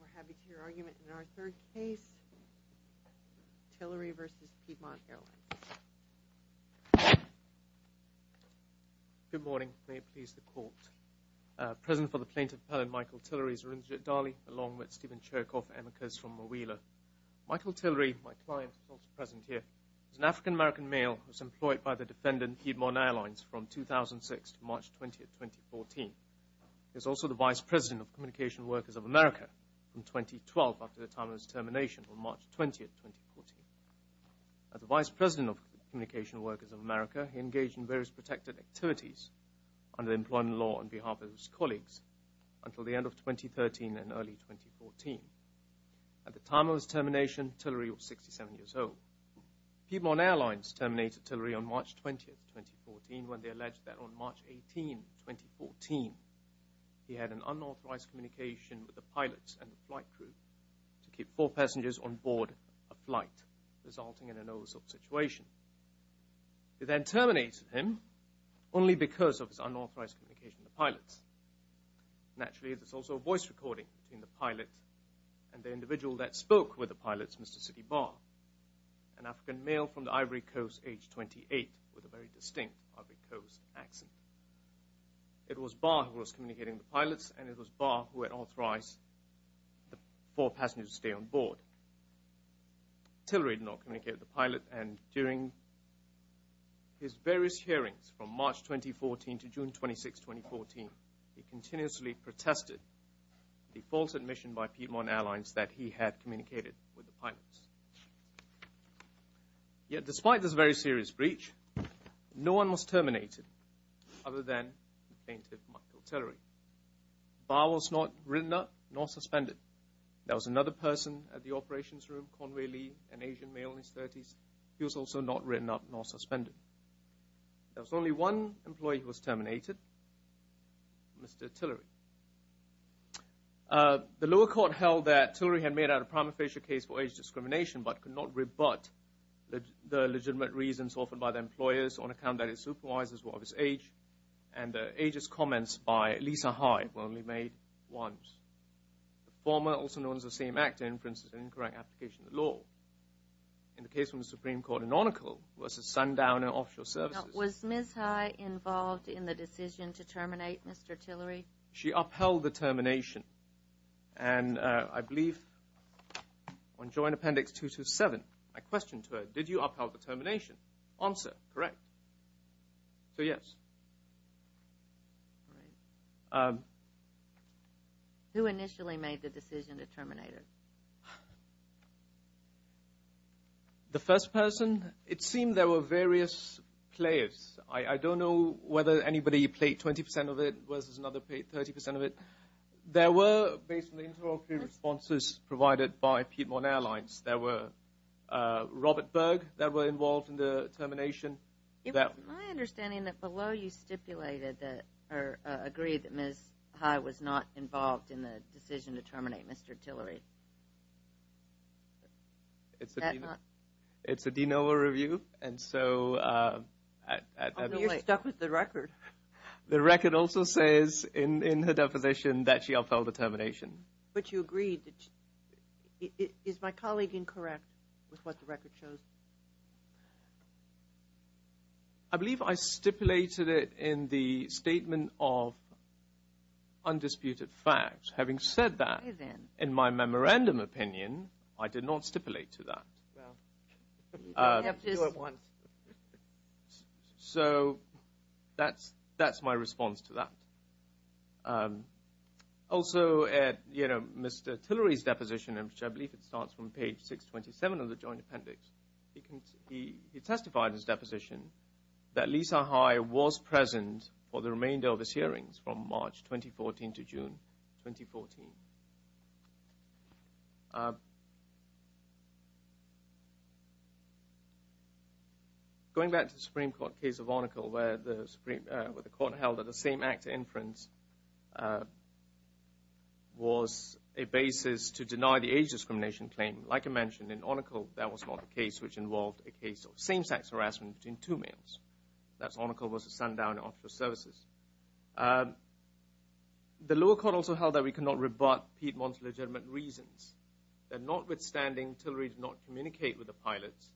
We're happy to hear your argument in our third case, Tillery v. Piedmont Airlines. Good morning, may it please the court. Present for the plaintiff, Appellant Michael Tillery, Zorindja Dali, along with Stephen Chirkoff, amicus from Mawila. Michael Tillery, my client, is also present here. He's an African-American male who was employed by the defendant, Piedmont Airlines, from 2006 to March 20, 2014. He is also the Vice President of Communication Workers of America from 2012 after the time of his termination on March 20, 2014. As the Vice President of Communication Workers of America, he engaged in various protected activities under employment law on behalf of his colleagues until the end of 2013 and early 2014. At the time of his termination, Tillery was 67 years old. Piedmont Airlines terminated Tillery on March 20, 2014, when they alleged that on March 18, 2014, he had an unauthorized communication with the pilots and the flight crew to keep four passengers on board a flight, resulting in a no-assault situation. They then terminated him only because of his unauthorized communication with the pilots. Naturally, there's also a voice recording between the pilot and the individual that spoke with the pilots, Mr. City Barr, an African male from the Ivory Coast, age 28, with a very distinct Ivory Coast accent. It was Barr who was communicating with the pilots, and it was Barr who had authorized the four passengers to stay on board. Tillery did not communicate with the pilot, and during his various hearings from March 2014 to June 26, 2014, he continuously protested the false admission by Piedmont Airlines that he had communicated with the pilots. Yet despite this very serious breach, no one was terminated other than the plaintiff, Michael Tillery. Barr was not written up nor suspended. There was another person at the operations room, Conway Lee, an Asian male in his 30s. He was also not written up nor suspended. There was only one employee who was terminated, Mr. Tillery. The lower court held that Tillery had made a prima facie case for age discrimination but could not rebut the legitimate reasons offered by the employers on account that his supervisors were of his age, and the ageist comments by Lisa Hyde were only made once. The former, also known as the same actor, inferences an incorrect application of the law. In the case from the Supreme Court in offshore services. Was Ms. Hyde involved in the decision to terminate Mr. Tillery? She upheld the termination, and I believe on Joint Appendix 227, I questioned her, did you upheld the termination? Answer, correct. So yes. Who initially made the decision to terminate Mr. Tillery? It was players. I don't know whether anybody played 20% of it versus another played 30% of it. There were basically interoperative responses provided by Piedmont Airlines. There were Robert Berg that were involved in the termination. It was my understanding that below you stipulated that, or agreed that Ms. Hyde was not involved in the decision to terminate Mr. Tillery. Is that not? It's a DNOA review, and so I don't know whether at that point. You're stuck with the record. The record also says in her deposition that she upheld the termination. But you agreed. Is my colleague incorrect with what the record shows? I believe I stipulated it in the statement of undisputed facts. Having said that, in my memorandum opinion, I did not stipulate to that. So that's my response to that. Also, Mr. Tillery's deposition, which I believe starts from page 627 of the Joint Appendix, he testified in his deposition that Lisa Hyde was present for the remainder of his hearings from March 2014 to June 2014. Going back to the Supreme Court case of Arnicle, where the Supreme Court held that the same act of inference was a basis to deny the age discrimination claim. Like I mentioned, in Arnicle that was not the case, which involved a case of same-sex marriage. The lower court also held that we cannot rebut Piedmont's legitimate reasons, that notwithstanding Tillery did not communicate with the pilots,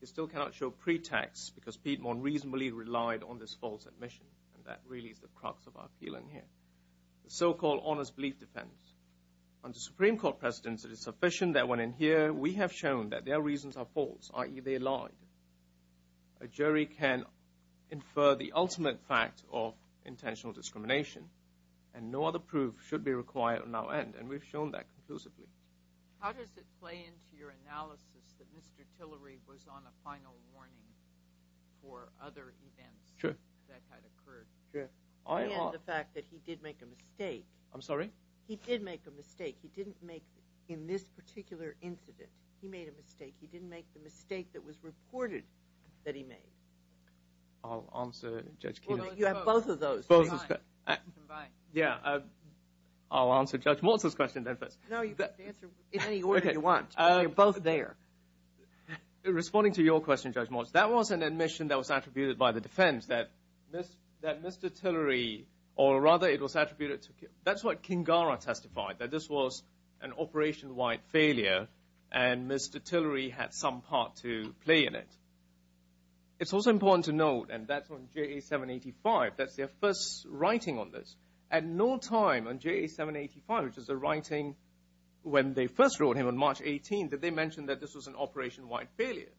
he still cannot show pretext because Piedmont reasonably relied on this false admission. And that really is the crux of our appeal in here. The so-called honest belief defense. Under Supreme Court precedence, it is sufficient that when in here we have shown that their reasons are false, i.e., they lied, a jury can infer the ultimate fact of intentional discrimination, and no other proof should be required on our end. And we've shown that conclusively. How does it play into your analysis that Mr. Tillery was on a final warning for other events that had occurred? And the fact that he did make a mistake. I'm sorry? He did make a mistake. He didn't make, in this particular incident, he made a mistake. He didn't make the mistake that was reported that he made. I'll answer Judge Keenan's question. Well, you have both of those combined. Yeah, I'll answer Judge Morse's question then first. No, you can answer in any order you want. You're both there. Responding to your question, Judge Morse, that was an admission that was attributed by the defense, that Mr. Tillery, or rather it was attributed to, that's what Kingara testified, that this was an operation-wide failure, and Mr. Tillery had some part to play in it. It's also important to note, and that's on JA 785, that's their first writing on this. At no time on JA 785, which is the writing when they first wrote him on March 18th, did they mention that this was an operation-wide failure.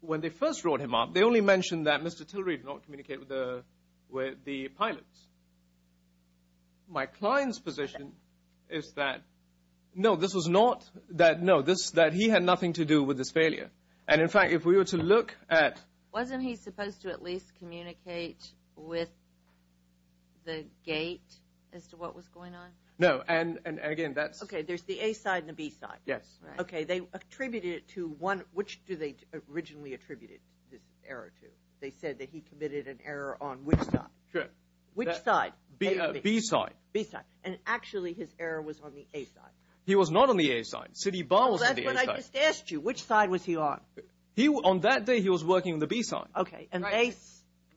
When they first wrote him up, they only mentioned that Mr. Tillery did not communicate with the pilots. My client's position is that, no, this was not, no, that he had nothing to do with this failure. And in fact, if we were to look at- Wasn't he supposed to at least communicate with the gate as to what was going on? No, and again, that's- Okay, there's the A side and the B side. Yes. Okay, they attributed it to one, which do they originally attribute this error to? They said that he committed an error on which side? Sure. Which side? B side. B side. And actually, his error was on the A side. He was not on the A side. Siddy Barr was on the A side. That's what I just asked you. Which side was he on? He, on that day, he was working on the B side. Okay, and they-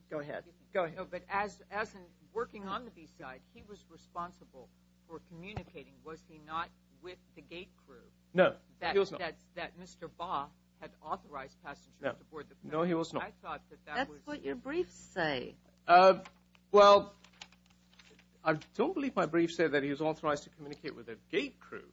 Go ahead. No, but as in working on the B side, he was responsible for communicating, was he not with the gate crew? No, he was not. That Mr. Barr had authorized passengers to board the plane. That's what your briefs say. Well, I don't believe my brief said that he was authorized to communicate with the gate crew.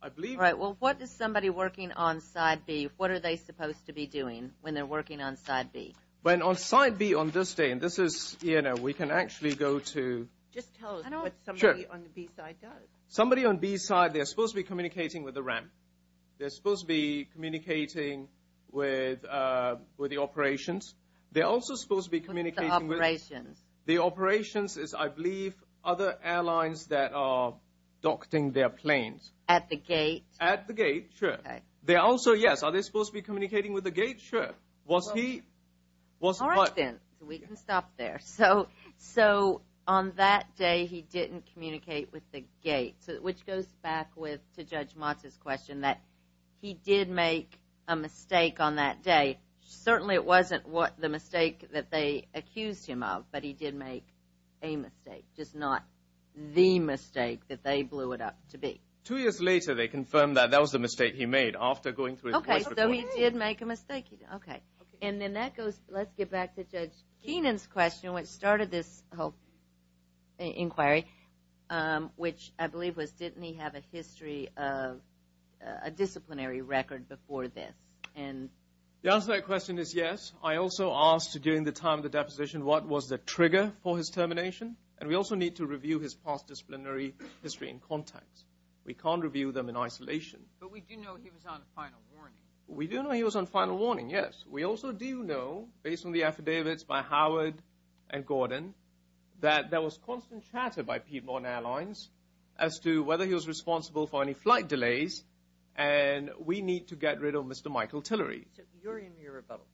I believe- Right, well, what is somebody working on side B, what are they supposed to be doing when they're working on side B? When on side B on this day, and this is, you know, we can actually go to- Just tell us what somebody on the B side does. Somebody on B side, they're supposed to be communicating with the ramp. They're supposed to be communicating with the operations. They're also supposed to be communicating with- With the operations. The operations is, I believe, other airlines that are docking their planes. At the gate? At the gate, sure. Okay. They're also, yes, are they supposed to be communicating with the gate? Sure. Was he- All right, then, so we can stop there. So, on that day, he didn't communicate with the gate, which goes back with, to Judge Motz's question, that he did make a mistake on that day. Certainly, it wasn't the mistake that they accused him of, but he did make a mistake, just not the mistake that they blew it up to be. Two years later, they confirmed that that was the mistake he made after going through- Okay, so he did make a mistake. Okay. And then that goes- Let's get back to Judge Keenan's question, which started this whole inquiry, which I believe was, didn't he have a history of a disciplinary record before this? And- The answer to that question is yes. I also asked during the time of the deposition, what was the trigger for his termination? And we also need to review his past disciplinary history and contacts. We can't review them in isolation. But we do know he was on final warning. We do know he was on final warning, yes. We also do know, based on the affidavits by Howard and Gordon, that there was constant chatter by people on airlines as to whether he was responsible for any flight delays. And we need to get rid of Mr. Michael Tillery. So, you're in your rebuttal.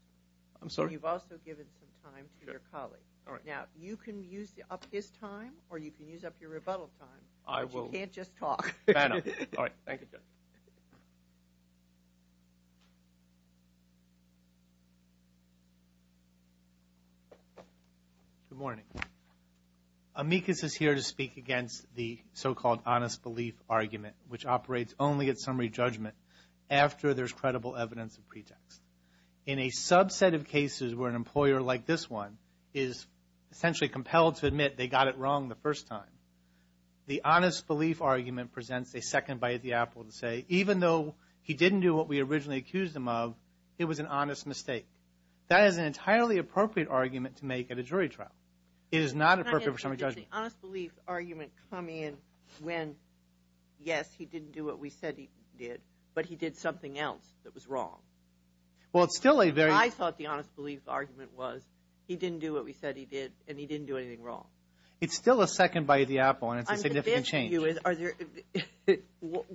I'm sorry? And you've also given some time to your colleague. Now, you can use up his time, or you can use up your rebuttal time. I will. But you can't just talk. All right. Thank you, Judge. Good morning. Amicus is here to speak against the so-called honest belief argument, which operates only at summary judgment after there's credible evidence of pretext. In a subset of cases where an employer, like this one, is essentially compelled to admit they got it wrong the first time, the honest belief argument presents a second bite at the apple to say, even though he didn't do what we originally accused him of, it was an honest mistake. That is an entirely appropriate argument to make at a jury trial. It is not appropriate for summary judgment. Can I interject? Did the honest belief argument come in when, yes, he didn't do what we said he did, but he did something else that was wrong? Well, it's still a very... I thought the honest belief argument was, he didn't do what we said he did, and he didn't do anything wrong. It's still a second bite at the apple, and it's a significant change. I'm going to ask you,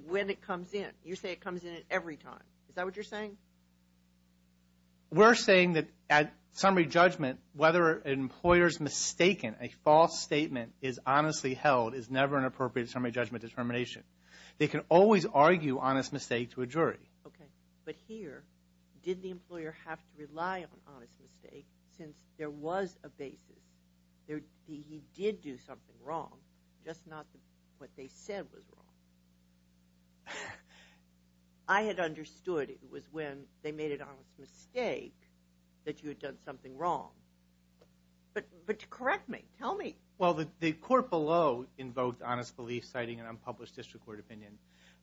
when it comes in. You say it comes in at every time. Is that what you're saying? We're saying that at summary judgment, whether an employer's mistaken, a false statement is honestly held, is never an appropriate summary judgment determination. They can always argue honest mistake to a jury. Okay. But here, did the employer have to rely on honest mistake since there was a basis that he did do something wrong, just not what they said was wrong? I had understood it was when they made an honest mistake that you had done something wrong, but correct me. Tell me. Well, the court below invoked honest belief citing an unpublished district court opinion.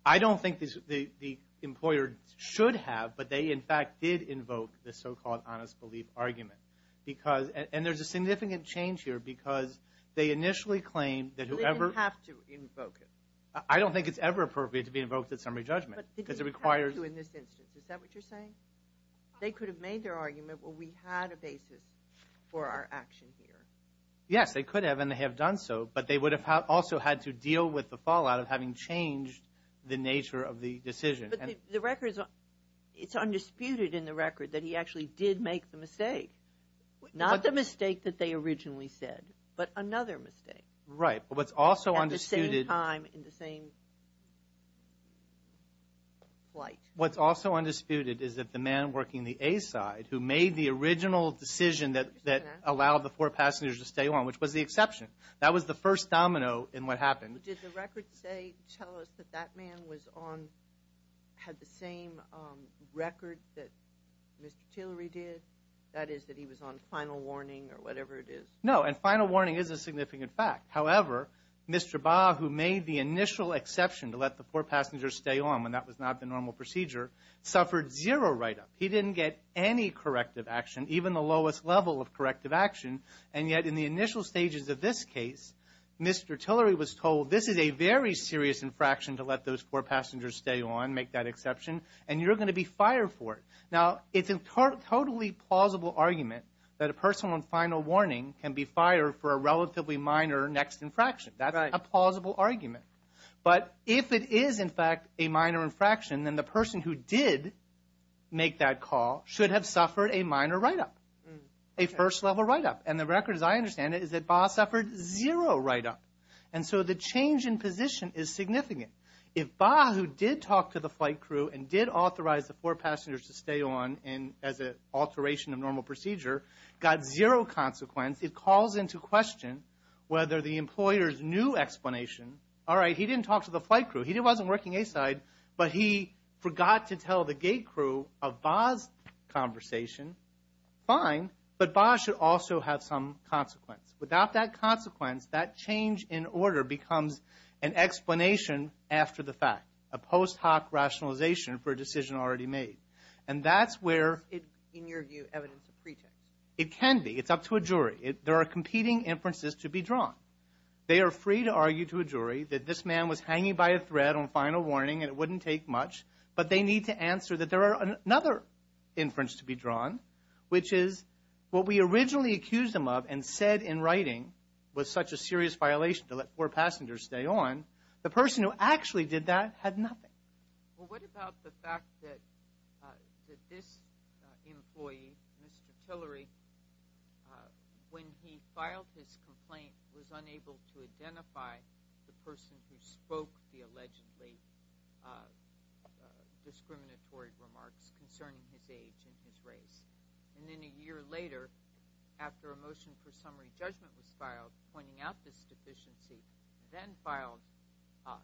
I don't think the employer should have, but they, in fact, did invoke the so-called honest belief argument. And there's a significant change here because they initially claimed that whoever... They didn't have to invoke it. I don't think it's ever appropriate to be invoked at summary judgment because it requires... But they didn't have to in this instance. Is that what you're saying? They could have made their argument, well, we had a basis for our action here. Yes, they could have, and they have done so, but they would have also had to deal with the fallout of having changed the nature of the decision. But the records... It's undisputed in the record that he actually did make the mistake. Not the mistake that they originally said, but another mistake. Right, but what's also undisputed... At the same time, in the same flight. What's also undisputed is that the man working the A side who made the original decision that allowed the four passengers to stay on, which was the exception. That was the first domino in what happened. Did the records tell us that that man had the same record that Mr. Tillery did? That is, that he was on final warning or whatever it is? No, and final warning is a significant fact. However, Mr. Baugh, who made the initial exception to let the four passengers stay on, when that was not the normal procedure, suffered zero write-up. He didn't get any corrective action, even the lowest level of corrective action, and yet in the initial stages of this case, Mr. Tillery was told, this is a very serious infraction to let those four passengers stay on, make that exception, and you're going to be fired for it. Now, it's a totally plausible argument that a person on final warning can be fired for a relatively minor next infraction. That's a plausible argument. But if it is, in fact, a minor infraction, then the person who did make that call should have suffered a minor write-up, a first-level write-up. And the record, as I understand it, is that Baugh suffered zero write-up. And so the change in position is significant. If Baugh, who did talk to the flight crew and did authorize the four passengers to stay on as an alteration of normal procedure, got zero consequence, it calls into question whether the employer's new explanation, all right, he didn't talk to the flight crew, he wasn't working A-side, but he forgot to tell the gate crew of Baugh's conversation, fine, but Baugh should also have some consequence. Without that consequence, that change in order becomes an explanation after the fact, a post hoc rationalization for a decision already made. And that's where... Is it, in your view, evidence of pretext? It can be. It's up to a jury. There are competing inferences to be drawn. They are free to argue to a jury that this man was hanging by a thread on final warning and it wouldn't take much, but they need to answer that there are another inference to be drawn, which is what we originally accused him of and said in writing was such a serious violation to let four passengers stay on, the person who actually did that had nothing. Well, what about the fact that this employee, Mr. Tillery, when he filed his complaint, was unable to identify the person who spoke the allegedly discriminatory remarks concerning his age and his race. And then a year later, after a motion for summary judgment was filed, pointing out this deficiency, then filed a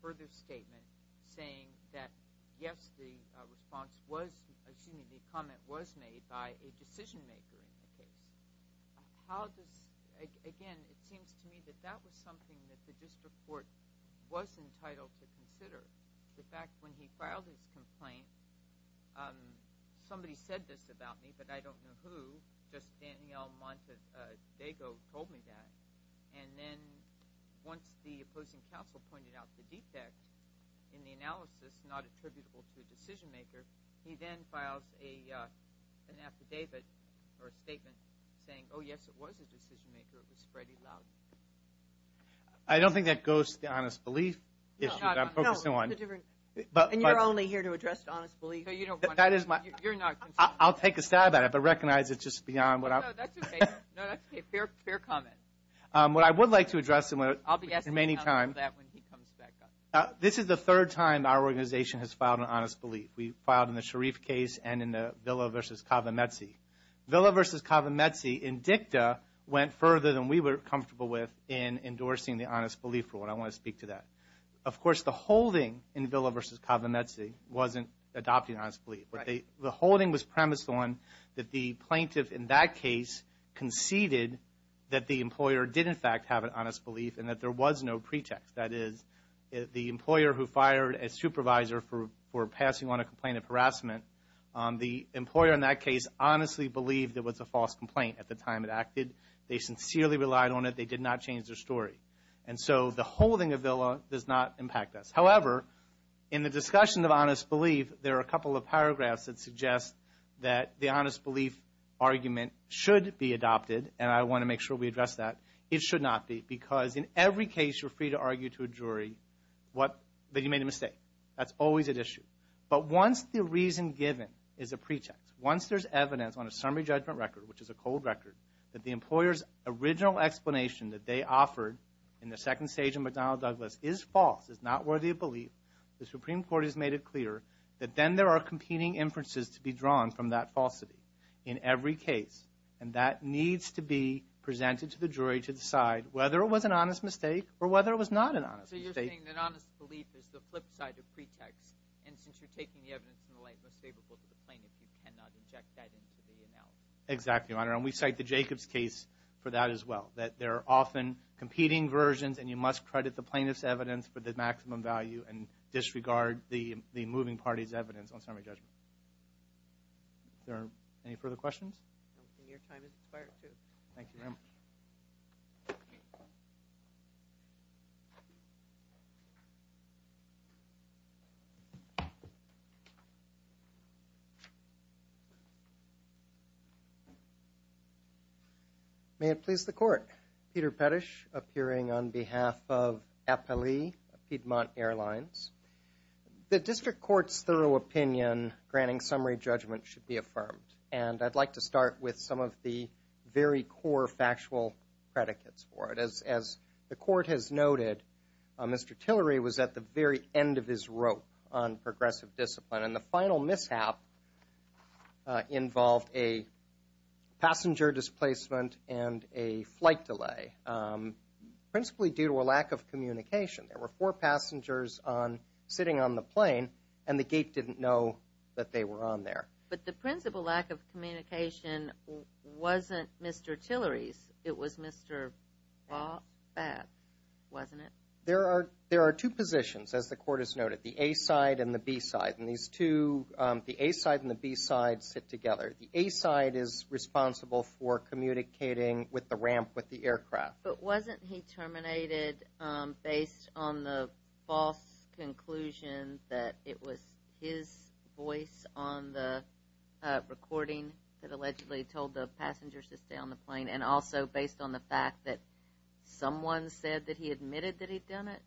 further statement saying that, yes, the response was, excuse me, the comment was made by a decision maker in the case. How does... Again, it seems to me that that was something that the district court was entitled to consider. The fact when he filed his complaint, somebody said this about me, but I don't know who, just Danielle Montadego told me that. And then once the opposing counsel pointed out the defect in the analysis not attributable to a decision maker, he then files an affidavit or a statement saying, oh, yes, it was a decision maker. It was Freddie Loudon. I don't think that goes to the honest belief issue that I'm focusing on. No, no, it's a different... And you're only here to address honest belief. No, you don't want to. That is my... You're not... I'll take a stab at it but recognize it's just beyond what I... No, that's okay. No, that's okay. Fair comment. What I would like to address in the remaining time... I'll be asking him about that when he comes back up. This is the third time our organization has filed an honest belief. We filed in the Sharif case and in the Villa v. Cava Mezzi. Villa v. Cava Mezzi in dicta went further than we were comfortable with in endorsing the honest belief rule. I want to speak to that. Of course, the holding in Villa v. Cava Mezzi wasn't adopting honest belief. Right. The holding was premised on that the plaintiff in that case conceded that the employer did in fact have an honest belief and that there was no pretext. That is, the employer who fired a supervisor for passing on a complaint of harassment, the employer in that case honestly believed it was a false complaint at the time it acted. They sincerely relied on it. They did not change their story. And so, the holding of Villa does not impact us. However, in the discussion of honest belief, there are a couple of paragraphs that suggest that the honest belief argument should be adopted. And I want to make sure we address that. It should not be because in every case you're free to argue to a jury that you made a mistake. That's always at issue. But once the reason given is a pretext, once there's evidence on a summary judgment record, which is a cold record, that the employer's original explanation that they offered in the second stage of McDonnell Douglas is false, is not worthy of belief, the Supreme Court has made it clear that then there are competing inferences to be drawn from that falsity in every case. And that needs to be presented to the jury to decide whether it was an honest mistake or whether it was not an honest mistake. So you're saying that honest belief is the flip side of pretext and since you're taking the evidence in the light most favorable to the plaintiff you cannot inject that into the analysis. Exactly, Your Honor. And we cite the Jacobs case for that as well. That there are often competing versions and you must credit the plaintiff's evidence for the maximum value and disregard the moving party's evidence on summary judgment. Are there any further questions? And your time is expired too. Thank you very much. May it please the court. Peter Pettish appearing on behalf of Appali, Piedmont Airlines The district court's thorough opinion granting summary judgment should be affirmed and I'd like to start with some of the very core factual predicates for it. As the court has noted Mr. Tillery was at the very end of his rope on progressive discipline displacement and a flight delay principally due to a lack of communication. There were four passengers on the flight and there were four passengers on the plane and there were four passengers on sitting on the plane and the gate didn't know that they were on there. But the principal lack of communication wasn't Mr. Tillery's it was Mr. Bach's wasn't it? There are two positions as the court has noted the A side and the B side and these two the A side and the B side sit together. The A side is responsible for communicating with the ramp with the aircraft. But wasn't he terminated based on the false conclusion that it was his voice on the recording that allegedly told the passengers to stay on the plane and also based on the fact that someone said that he admitted that he'd done it?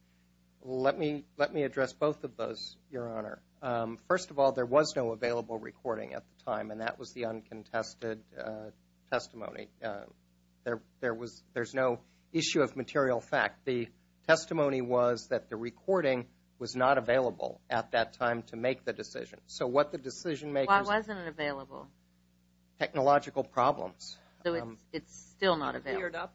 Let me let me address both of those Your Honor. First of all there was no available recording at the time and that was the uncontested testimony. There was there's no issue of material fact. The testimony was that the recording was not available at that time to make the decision. So what the decision makers Why wasn't it available? Technological problems. So it's still not available?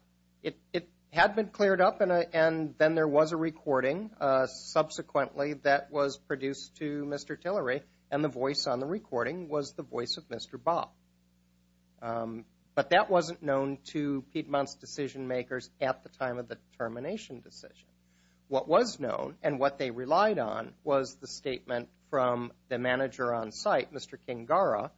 It had been cleared up and then there was a recording subsequently that was produced to Mr. Tillery and the voice on the recording was the voice of Mr. Bach. But that wasn't known to the recorders at the time of the termination decision. What was known and what they relied on was the statement from the manager on site Mr. King-Gara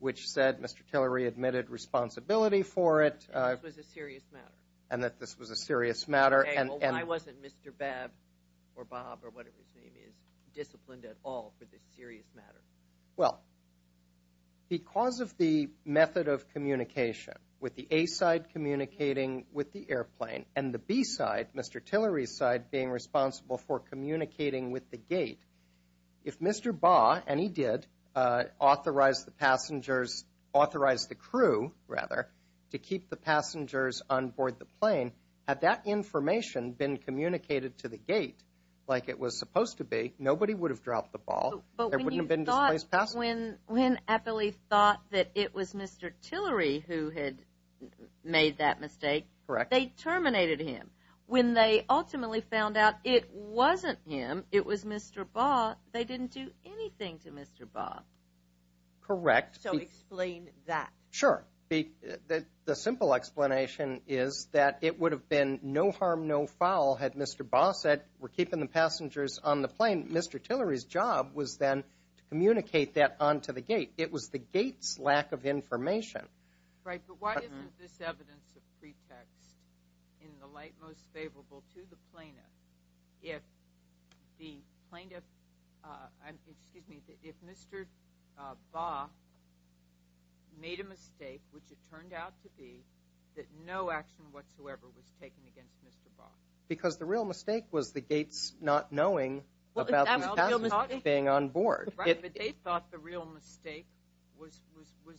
which said Mr. Tillery admitted responsibility for it and that this was a serious matter Why wasn't Mr. Bab or Bob or whatever his name is disciplined at all for this serious matter? Well because of the method of dropping the ball on the plane and the B side Mr. Tillery's side being responsible for communicating with the gate if Mr. Ba and he did authorized the passengers authorized the crew rather to keep the passengers on board the plane had that information been communicated to the gate like it was supposed to be nobody would have dropped the ball there wouldn't have been displaced passengers But when you thought when Appley thought that it was Mr. Tillery who had made that mistake Correct They terminated him When they ultimately found out it wasn't him it was Mr. Ba they didn't do anything to Mr. Ba Correct So explain that Sure The simple explanation is that it would have been no harm no foul had Mr. Ba said we're keeping the passengers on the plane Mr. Tillery's job was then to communicate that onto the gate it was the gate's lack of information Right but why isn't this evidence of pretext in the light most favorable to the plaintiff if the plaintiff excuse me if Mr. Ba made a mistake which it turned out to be that no action whatsoever was taken against Mr. Ba Because the real mistake was the gate's not knowing about the passengers being on board Right but they thought the real mistake was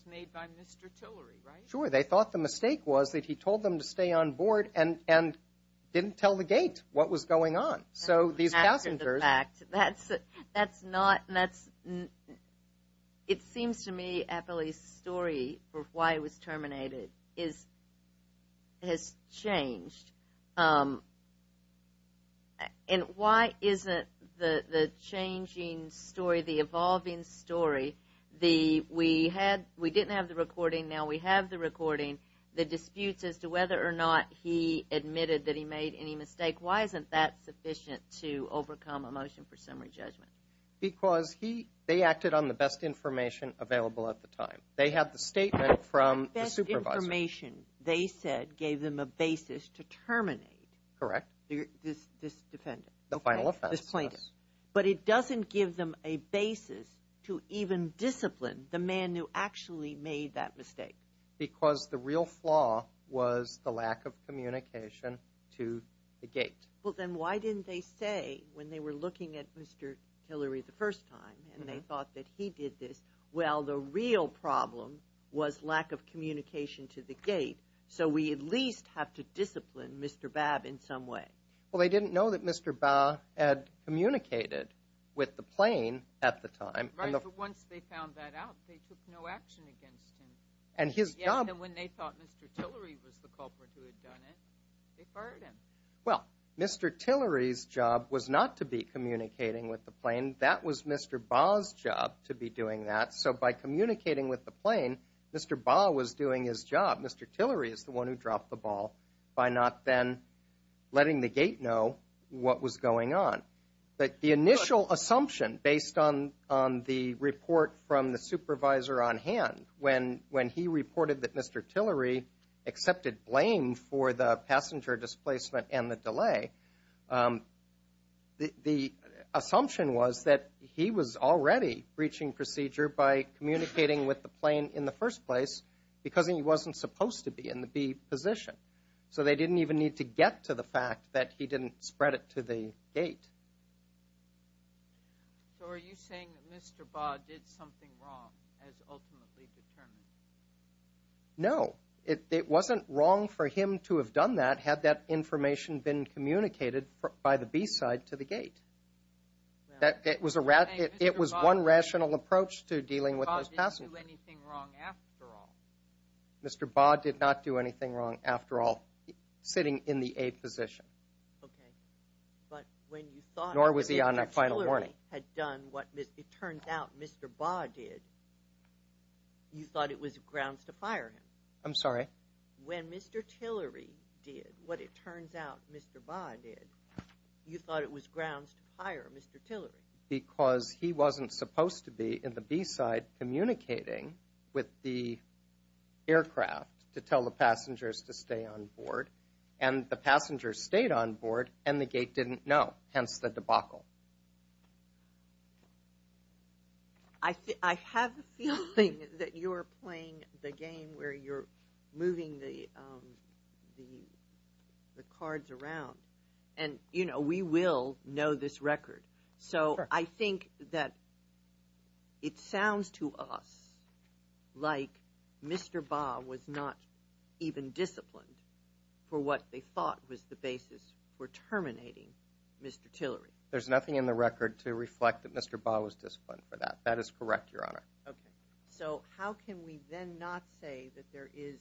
made by Mr. Tillery right Sure they thought the mistake was that he told them to stay on board and didn't tell the gate what was going on so these passengers After the fact that's not that's it seems to me Appley's story for why it was terminated is has changed and why isn't the changing story the evolving story the we had we didn't have the recording now we have the recording the disputes as to whether or not he admitted that he made any mistake why isn't that sufficient to overcome a motion for summary judgment because he they acted on the best information available at the time they had the statement from the supervisor the best information they said gave them a basis to terminate correct this defendant the final flaw was the lack of communication to the gate well then why didn't they say when they were looking at Mr. Hillary the first time and they thought that he did this well the real problem was lack of communication to the gate so we at least have to discipline Mr. Babb in some way well they fired him well Mr. Tillery's job was not to be communicating with the plane that was Mr. Babb's job to be doing that so by communicating with the plane Mr. Babb was doing his job Mr. Tillery is the one who dropped the ball by not then letting the gate know what was going on but the initial assumption based on the report from the supervisor on hand when he reported that Mr. Tillery accepted blame for the passenger displacement and the delay the assumption was that he was already breaching procedure by communicating with the plane in the first place because he wasn't supposed to be in the B position so they didn't even need to get to the fact that he didn't spread it to the gate so are you saying that Mr. Babb did something wrong as ultimately determined no it wasn't wrong for him to have done that had that information been communicated by the B side to the gate it was one rational approach to dealing with those passengers Mr. Babb did not do anything wrong after all sitting in the A position nor was he on a final decision Mr. Tillery had done what it turns out Mr. Babb did you thought it was grounds to fire him I'm sorry when Mr. Tillery did what it turns out Mr. Babb did you thought it was grounds to fire Mr. Tillery because he wasn't supposed to be in the B side communicating with the aircraft to tell the passengers to stay on board and the passengers stayed on board and the gate didn't know hence the debacle I have a feeling that you are playing the game where you're moving the cards around and you know we will know this record so I think that it sounds to us like Mr. Babb was not even disciplined for what they thought was the right to do on the record to reflect that Mr. Babb was disciplined for that that is correct your honor so how can we then not say that there is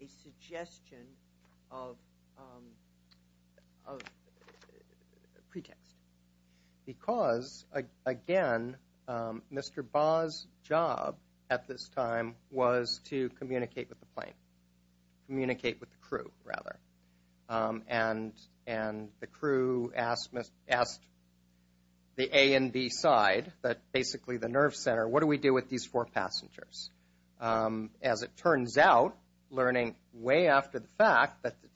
a suggestion of pretext because again Mr. Babb's job at this time was to communicate with the plane communicate with the crew rather and the crew asked the A and B side the nerve center what do we do with these four passengers as it turns out learning way after the fact that the four passengers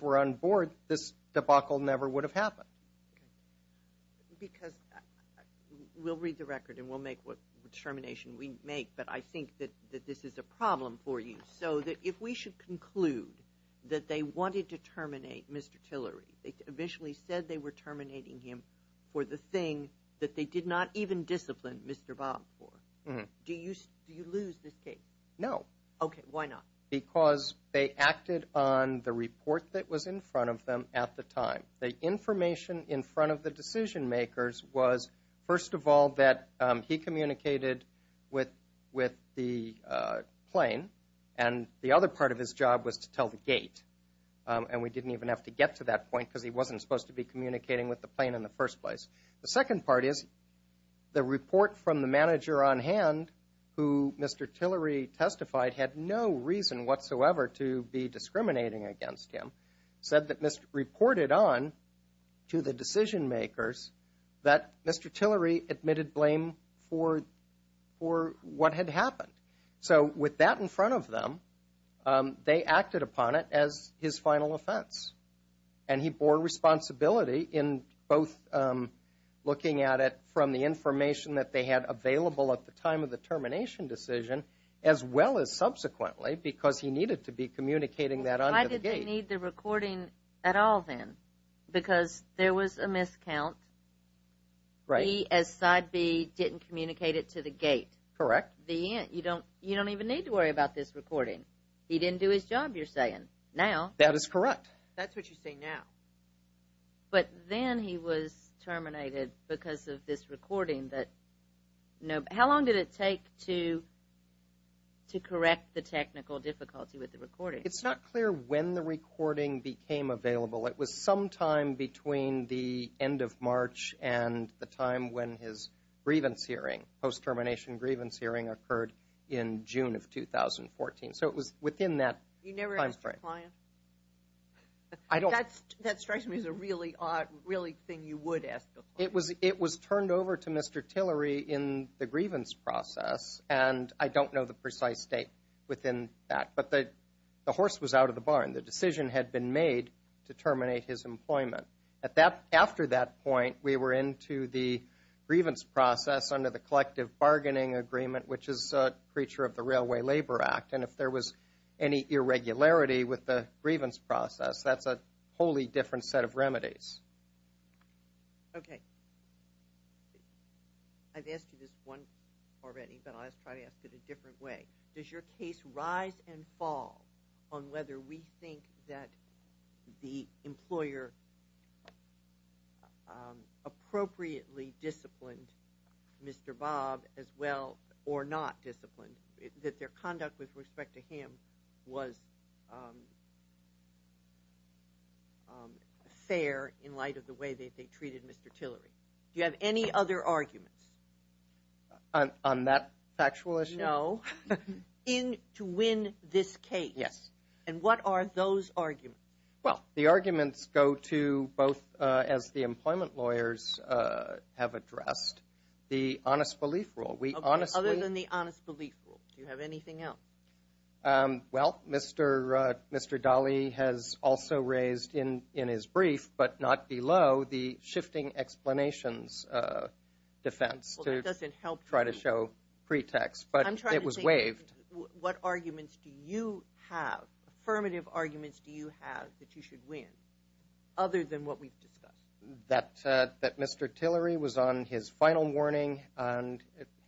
were on board this debacle never would have happened because we'll read the record and we'll make what determination we make but I think that that this is a problem for you so that if we should conclude that they wanted to terminate Mr. Tillery they initially said they were terminating him for the thing that they did not even discipline Mr. Babb for do you do you lose this case no okay why not because they acted on the report that was in front of them at the time the information in front of the decision makers was first of all that he communicated with with the plane and the other part of his job was to tell the gate and we didn't even have to get to that point because he wasn't supposed to be communicating with the plane in the first place the second part is the report from the manager on hand who Mr. Tillery testified had no reason whatsoever to be discriminating against him said that Mr. reported on to the decision makers that Mr. Tillery admitted blame for what had happened so with that in front of them they acted upon it as his testimony and subsequently because he needed to be communicating that onto the gate why did they need the recording at all then because there was a miscount he as side B didn't communicate it to the gate correct the you don't you don't even need to worry about this recording he didn't do his job you're saying now that is correct that's what you say now but then he was terminated because of this recording that how long did it take to correct the technical difficulty with the recording it's not clear when the recording became available it was sometime between the end of March and the time when his grievance hearing post termination grievance hearing occurred in June of 2014 so it was within that time frame you never asked your client that strikes me as a really odd really thing you would ask it was turned over to Mr. Tillery in the grievance process and I don't know the precise date within that but the horse was out of the highway labor act and if there was any irregularity with the grievance process that's a wholly different set of remedies okay I've asked you this once already but I'll try to ask it a different way does your case rise and fall on whether we think that the employer appropriately disciplined Mr. Bob as well or not disciplined that their conduct with respect to him was fair in light of the way that they treated Mr. Tillery do you have any other arguments on that factual issue no in to win this case yes and what are those arguments well the arguments go to both as the employment lawyers have addressed the honest belief rule other than the honest belief rule do you have anything else well Mr. Dolly has also raised in his brief but not below the shifting explanations defense well that doesn't help try to show pretext but it was waived what arguments do you have affirmative arguments do you have that you should win other than what we've discussed that Mr. Tillery was on his final warning and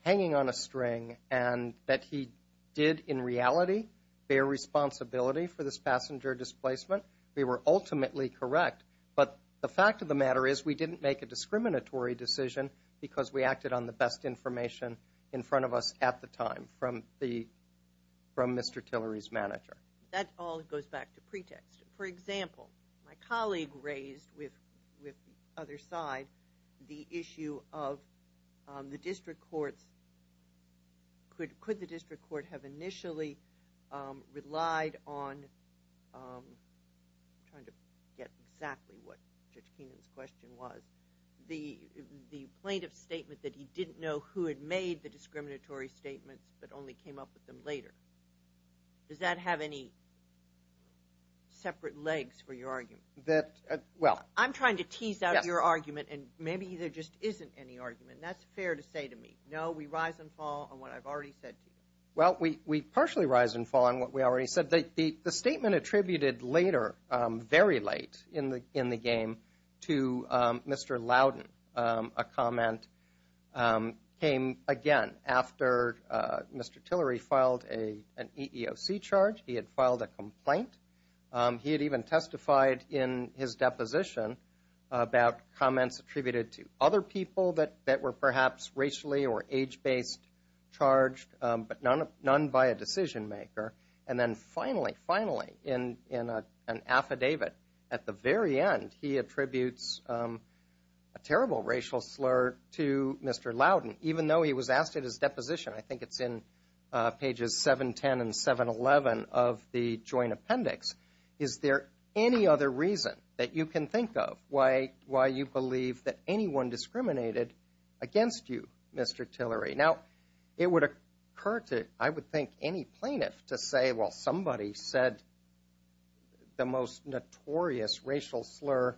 hanging on a string and that he did in reality bear responsibility for this passenger displacement we were ultimately correct but the fact of the matter is we didn't make a discriminatory decision because we acted on the best information in front of us at the time from Mr. Tillery's perspective for example my colleague raised with the other side the issue of the district courts could the district court have initially relied on trying to get exactly what Judge Keenan's question was the plaintiff statement that he didn't know who had made the discriminatory statements but only came up with them later does that have any separate legs for your argument I'm trying to tease out your argument and maybe there just isn't any argument that's fair to say to me no we rise and fall on what I've already said well we partially rise and fall on what we already said the statement attributed later very late in the game to Mr. Loudon a comment came again after Mr. Tillery filed an EEOC charge he had filed a complaint he had even testified in his deposition about comments attributed to other people that were perhaps racially or age based charged but none by a decision maker and then finally finally in an affidavit at the very end he attributes a terrible racial slur to Mr. Loudon even though he was asked at his deposition I think it's in pages 710 and 711 of the joint appendix is there any other reason that you can think of why you believe that anyone discriminated against you Mr. Tillery now it would occur to I would think any plaintiff to say well somebody said the most notorious racial slur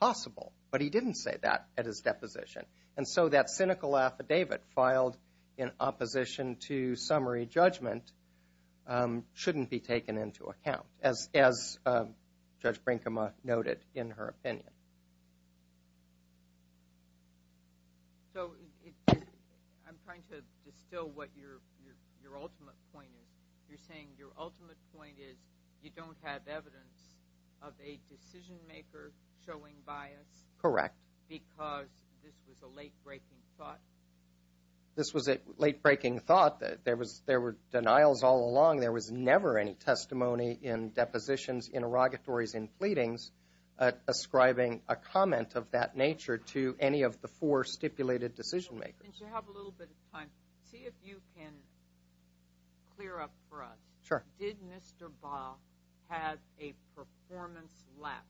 possible but he didn't say that at his deposition and so that cynical affidavit filed in opposition to summary judgment shouldn't be taken into account as Judge Brinkema noted in her opinion so I'm trying to distill what your ultimate point is you're saying your ultimate point is you don't have evidence of a decision maker showing bias correct because this was a late breaking thought this was a late breaking thought that there was there were denials all along there was never any testimony in depositions in pleadings ascribing a comment of that nature to any of the four stipulated decision makers see if you can clear up for us did Mr. Ba have a performance lapse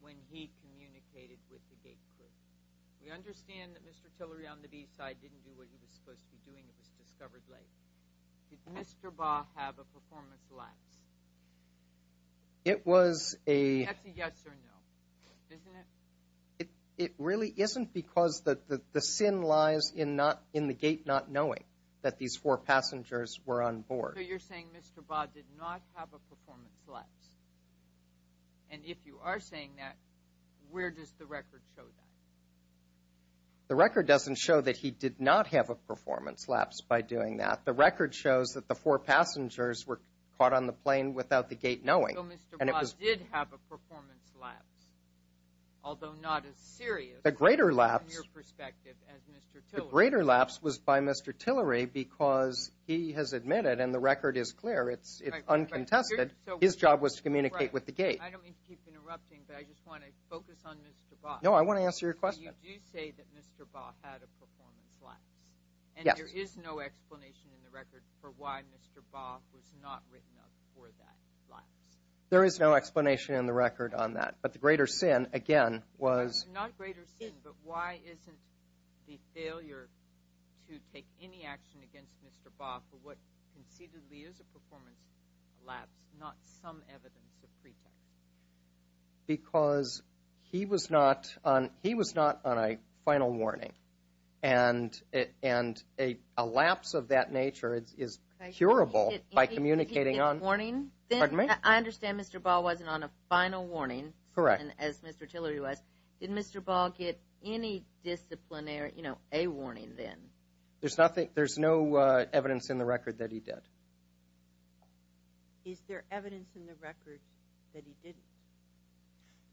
when he communicated with the gate crew we understand that Mr. Tillery on the B side didn't do what he was supposed to be doing it was discovered late did Mr. Ba have a performance lapse it was a that's a yes or no isn't it it really isn't because the sin lies in the gate not knowing that these four passengers were on board you're saying Mr. Ba did not have a performance lapse and if you are talking a performance lapse the greater lapse was by Mr. Tillery because he has admitted and the record is clear it's uncontested his job was to communicate with the gate I don't mean to keep interrupting but I just want to focus on Mr. Ba no I want to answer your question you do say that Mr. Ba had a performance lapse and there is no explanation in the record for why Mr. Ba was not written up for that lapse there is no explanation in the record on that but the greater sin again was not greater sin but why isn't the failure to take any action against Mr. Ba for what concededly is a performance lapse not some evidence of pretext because he was not on a final warning and a lapse of that nature is curable by communicating on a final warning did Mr. Ba get any disciplinary a warning then there is no evidence in the record that he didn't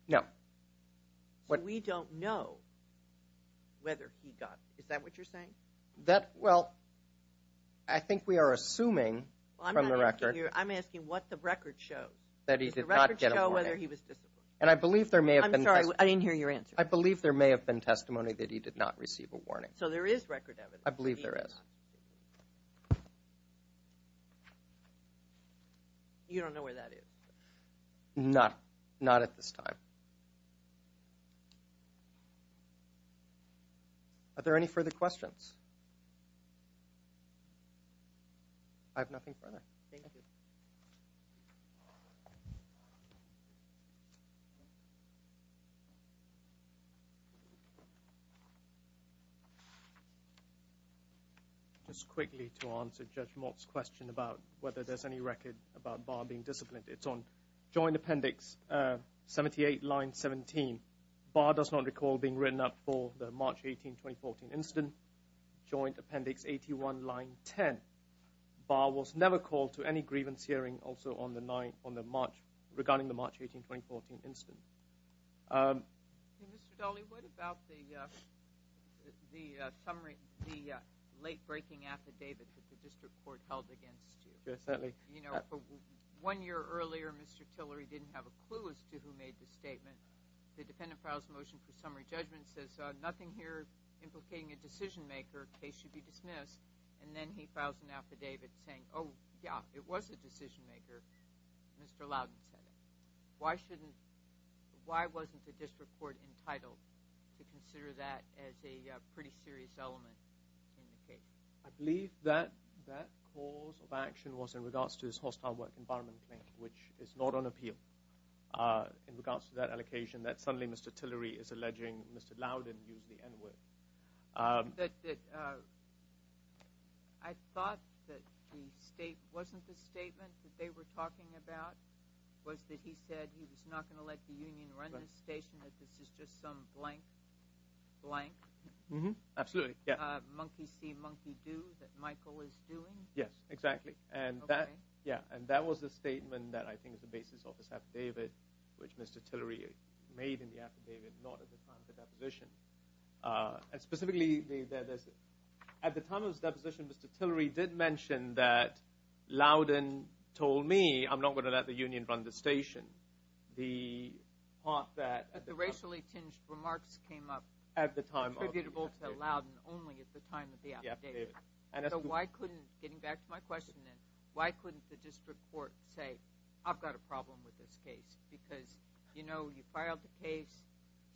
no we don't know whether he got is that what you're saying that well I think we are assuming from the record I'm asking what the record shows that he did not get a warning and I believe there may have been I didn't hear your answer I believe there may have been testimony that he did not receive a warning so there is record evidence I believe there is you don't know where that is not not at this time are there any further questions I have nothing further thank you just quickly to answer Judge Mott's question about whether there's any record about Barr being disciplined it's on joint appendix 78 line 17 Barr does not recall being written up for the March 18 2014 incident joint appendix 81 line 10 Barr was never called to any grievance hearing also on the March regarding the March 18 2014 incident Mr. Daly what about the the late breaking affidavit that the district court held against you yes certainly one year earlier Mr. Tillery didn't have a clue as to who made the statement the defendant files motion for summary judgment says nothing here implicating a decision maker case should be dismissed and then he files an affidavit saying oh yeah it was a decision maker Mr. Loudon said it why shouldn't why wasn't the district court entitled to consider that as a pretty serious element in the case I believe that that cause of action was in regards to this hostile work environment claim which is not on appeal in regards to that allocation that suddenly Mr. Tillery is alleging Mr. Loudon used the N word I thought that the state wasn't the statement that they were talking about was that he said he was not going to let the union run this station that this is just some blank blank monkey see monkey do that Michael is doing yes exactly and that yeah and that was the statement that I think is the basis of his affidavit which Mr. Tillery made in the affidavit not at the time of the deposition uh specifically at the time of his deposition Mr. Tillery did mention that Loudon told me I'm not going to let the union run the station the part that but the racially tinged remarks came up at the time attributable to Loudon only at the time of the affidavit so why couldn't getting back to my question then why couldn't the district court say I've got a problem with this case because you know you filed the case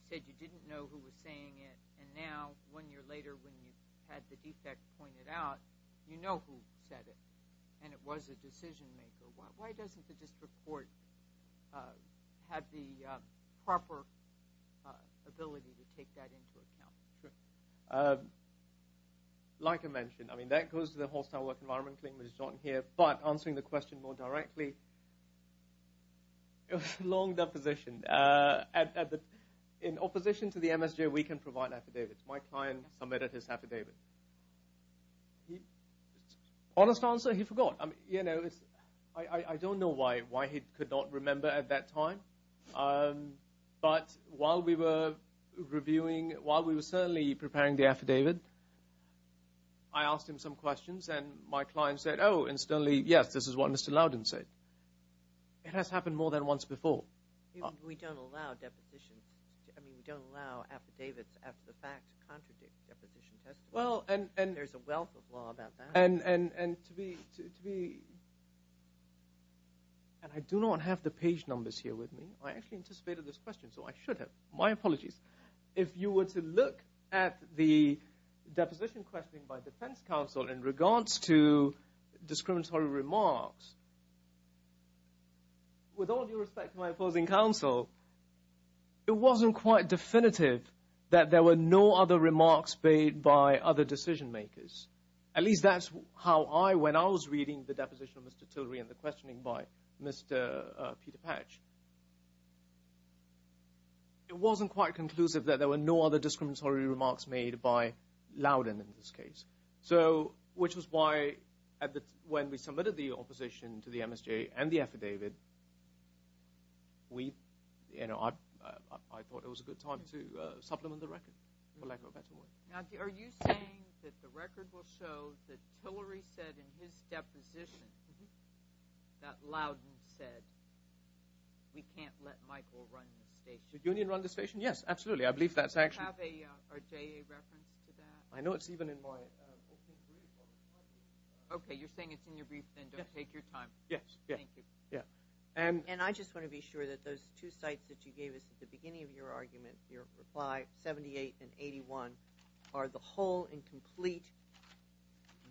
said you didn't know who was saying it and now one year later when the case was closed the court said saying it and now one year later when the case was closed the court said you didn't know who was saying it and while we were certainly preparing the affidavit I asked him some questions and my client said oh incidentally yes this is what Mr. Loudon it has happened more than once before we don't allow depositions I mean we don't allow affidavits after the fact to contradict well and there's a wealth of law about that and to be and I do not have the page numbers here with me I actually anticipated this question so I should have my apologies if you were to look at the deposition questioning by defense counsel in regards to discriminatory remarks made by other decision makers at least that's how I when I was reading the deposition of Mr. Tillery and the questioning by Mr. Peter Patch it wasn't quite conclusive that there were no other discriminatory remarks made by Loudon in this case so which was why when we submitted the opposition to the MSJA and the affidavit we I thought it was a good time to supplement the record for lack of a better word are you saying that the record will show that Tillery said in his brief okay you're saying it's in your brief then don't take your time yes yeah and I just want to be sure that those two sites that you gave us at the beginning of your argument your reply 78 and 81 are the whole and complete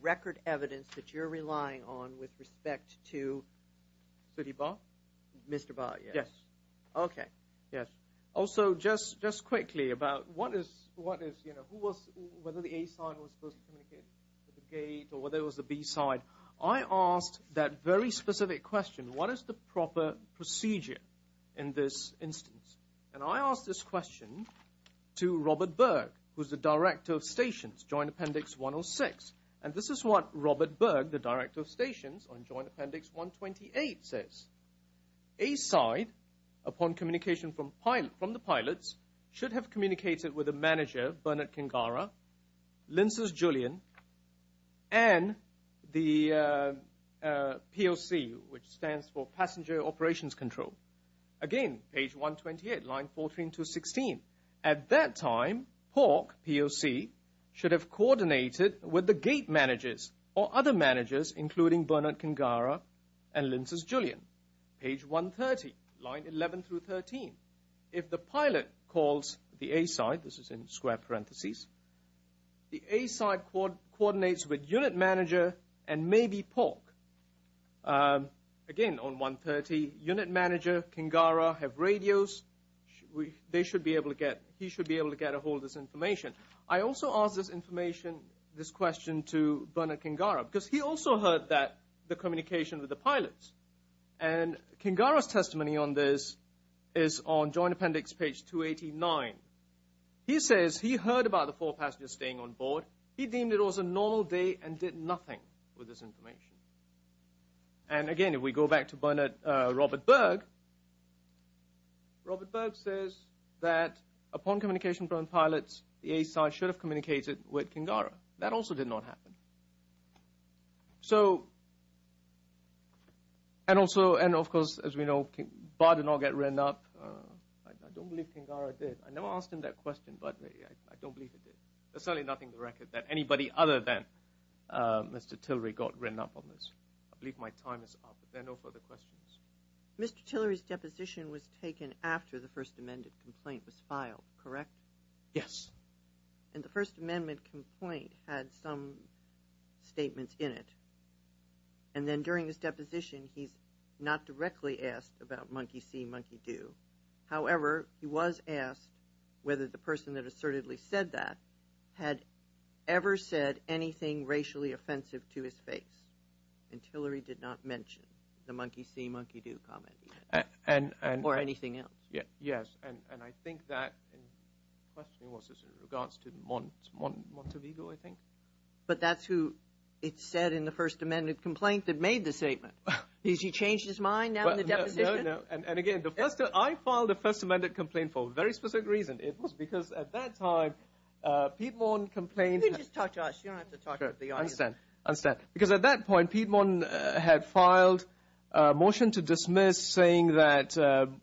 record evidence that you're relying on with respect to city bar mr. bar yes okay yes also just just quickly about what is what is you know who was whether the a-side was supposed to communicate with the gate or whether it was the b-side I asked that very specific question what is the proper procedure in this instance and I asked this question to Robert Berg who's the director of stations joint appendix 106 and this is what Robert Berg the director of stations on joint appendix 128 says a-side upon communication from pilots from the pilots should have communicated with the manager Bernard Kingara Linces Julian and the PLC which stands for passenger operations control again page 128 line 14 to 16 at that time POC POC should have coordinated with the gate managers or other managers including Bernard Kingara and Linces Julian page 130 line 11 through 13 if the pilot calls the a-side this is in square parentheses the a-side coordinates with unit manager and maybe POC again on 130 unit manager Kingara have radios they should be able to get he should be able to get a hold of this information I also asked this information this question to Bernard Kingara because he also heard that the communication with the pilots and Kingara's testimony on this is on joint appendix page 289 he says he heard about the four passengers staying on board he deemed it was a normal day and did nothing with this information and again if we go back to Bernard Robert Berg Robert Berg says that upon communication from pilots the a-side should have communicated with Kingara that also did not happen so and also and of course as we know Bard did not get written up I don't believe Kingara did I never asked him that question but I don't believe it did there's certainly nothing to record that anybody other than Mr. Tillery got written up on this I believe my time is up if there are no further questions Mr. Tillery's deposition was taken after the first amendment complaint was filed correct yes and the first amendment complaint had some statements in it and then during his deposition he's not directly asked about monkey see monkey do however he was asked whether the person that assertedly said that had ever said anything racially offensive to his face and Tillery did not mention the monkey see monkey do comment or anything else yes and I think that the question was in regards to Montevigo I think but that's who it said in the first amendment complaint that made the statement has he changed his mind now in the deposition no no and again the first I filed the first amendment complaint for a very specific reason it was because at that time Piedmont complained you can just talk to us you don't have to talk to the audience I understand because at that point Piedmont had filed a motion to dismiss saying that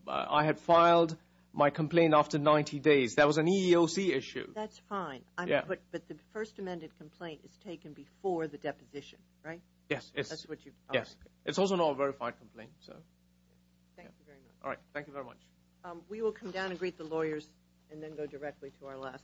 I had filed my complaint after 90 days that was an EEOC issue that's fine but the first amendment complaint is taken before the deposition right yes it's also not a verified complaint so thank you very much we will come down and greet the lawyers and then go directly to our last case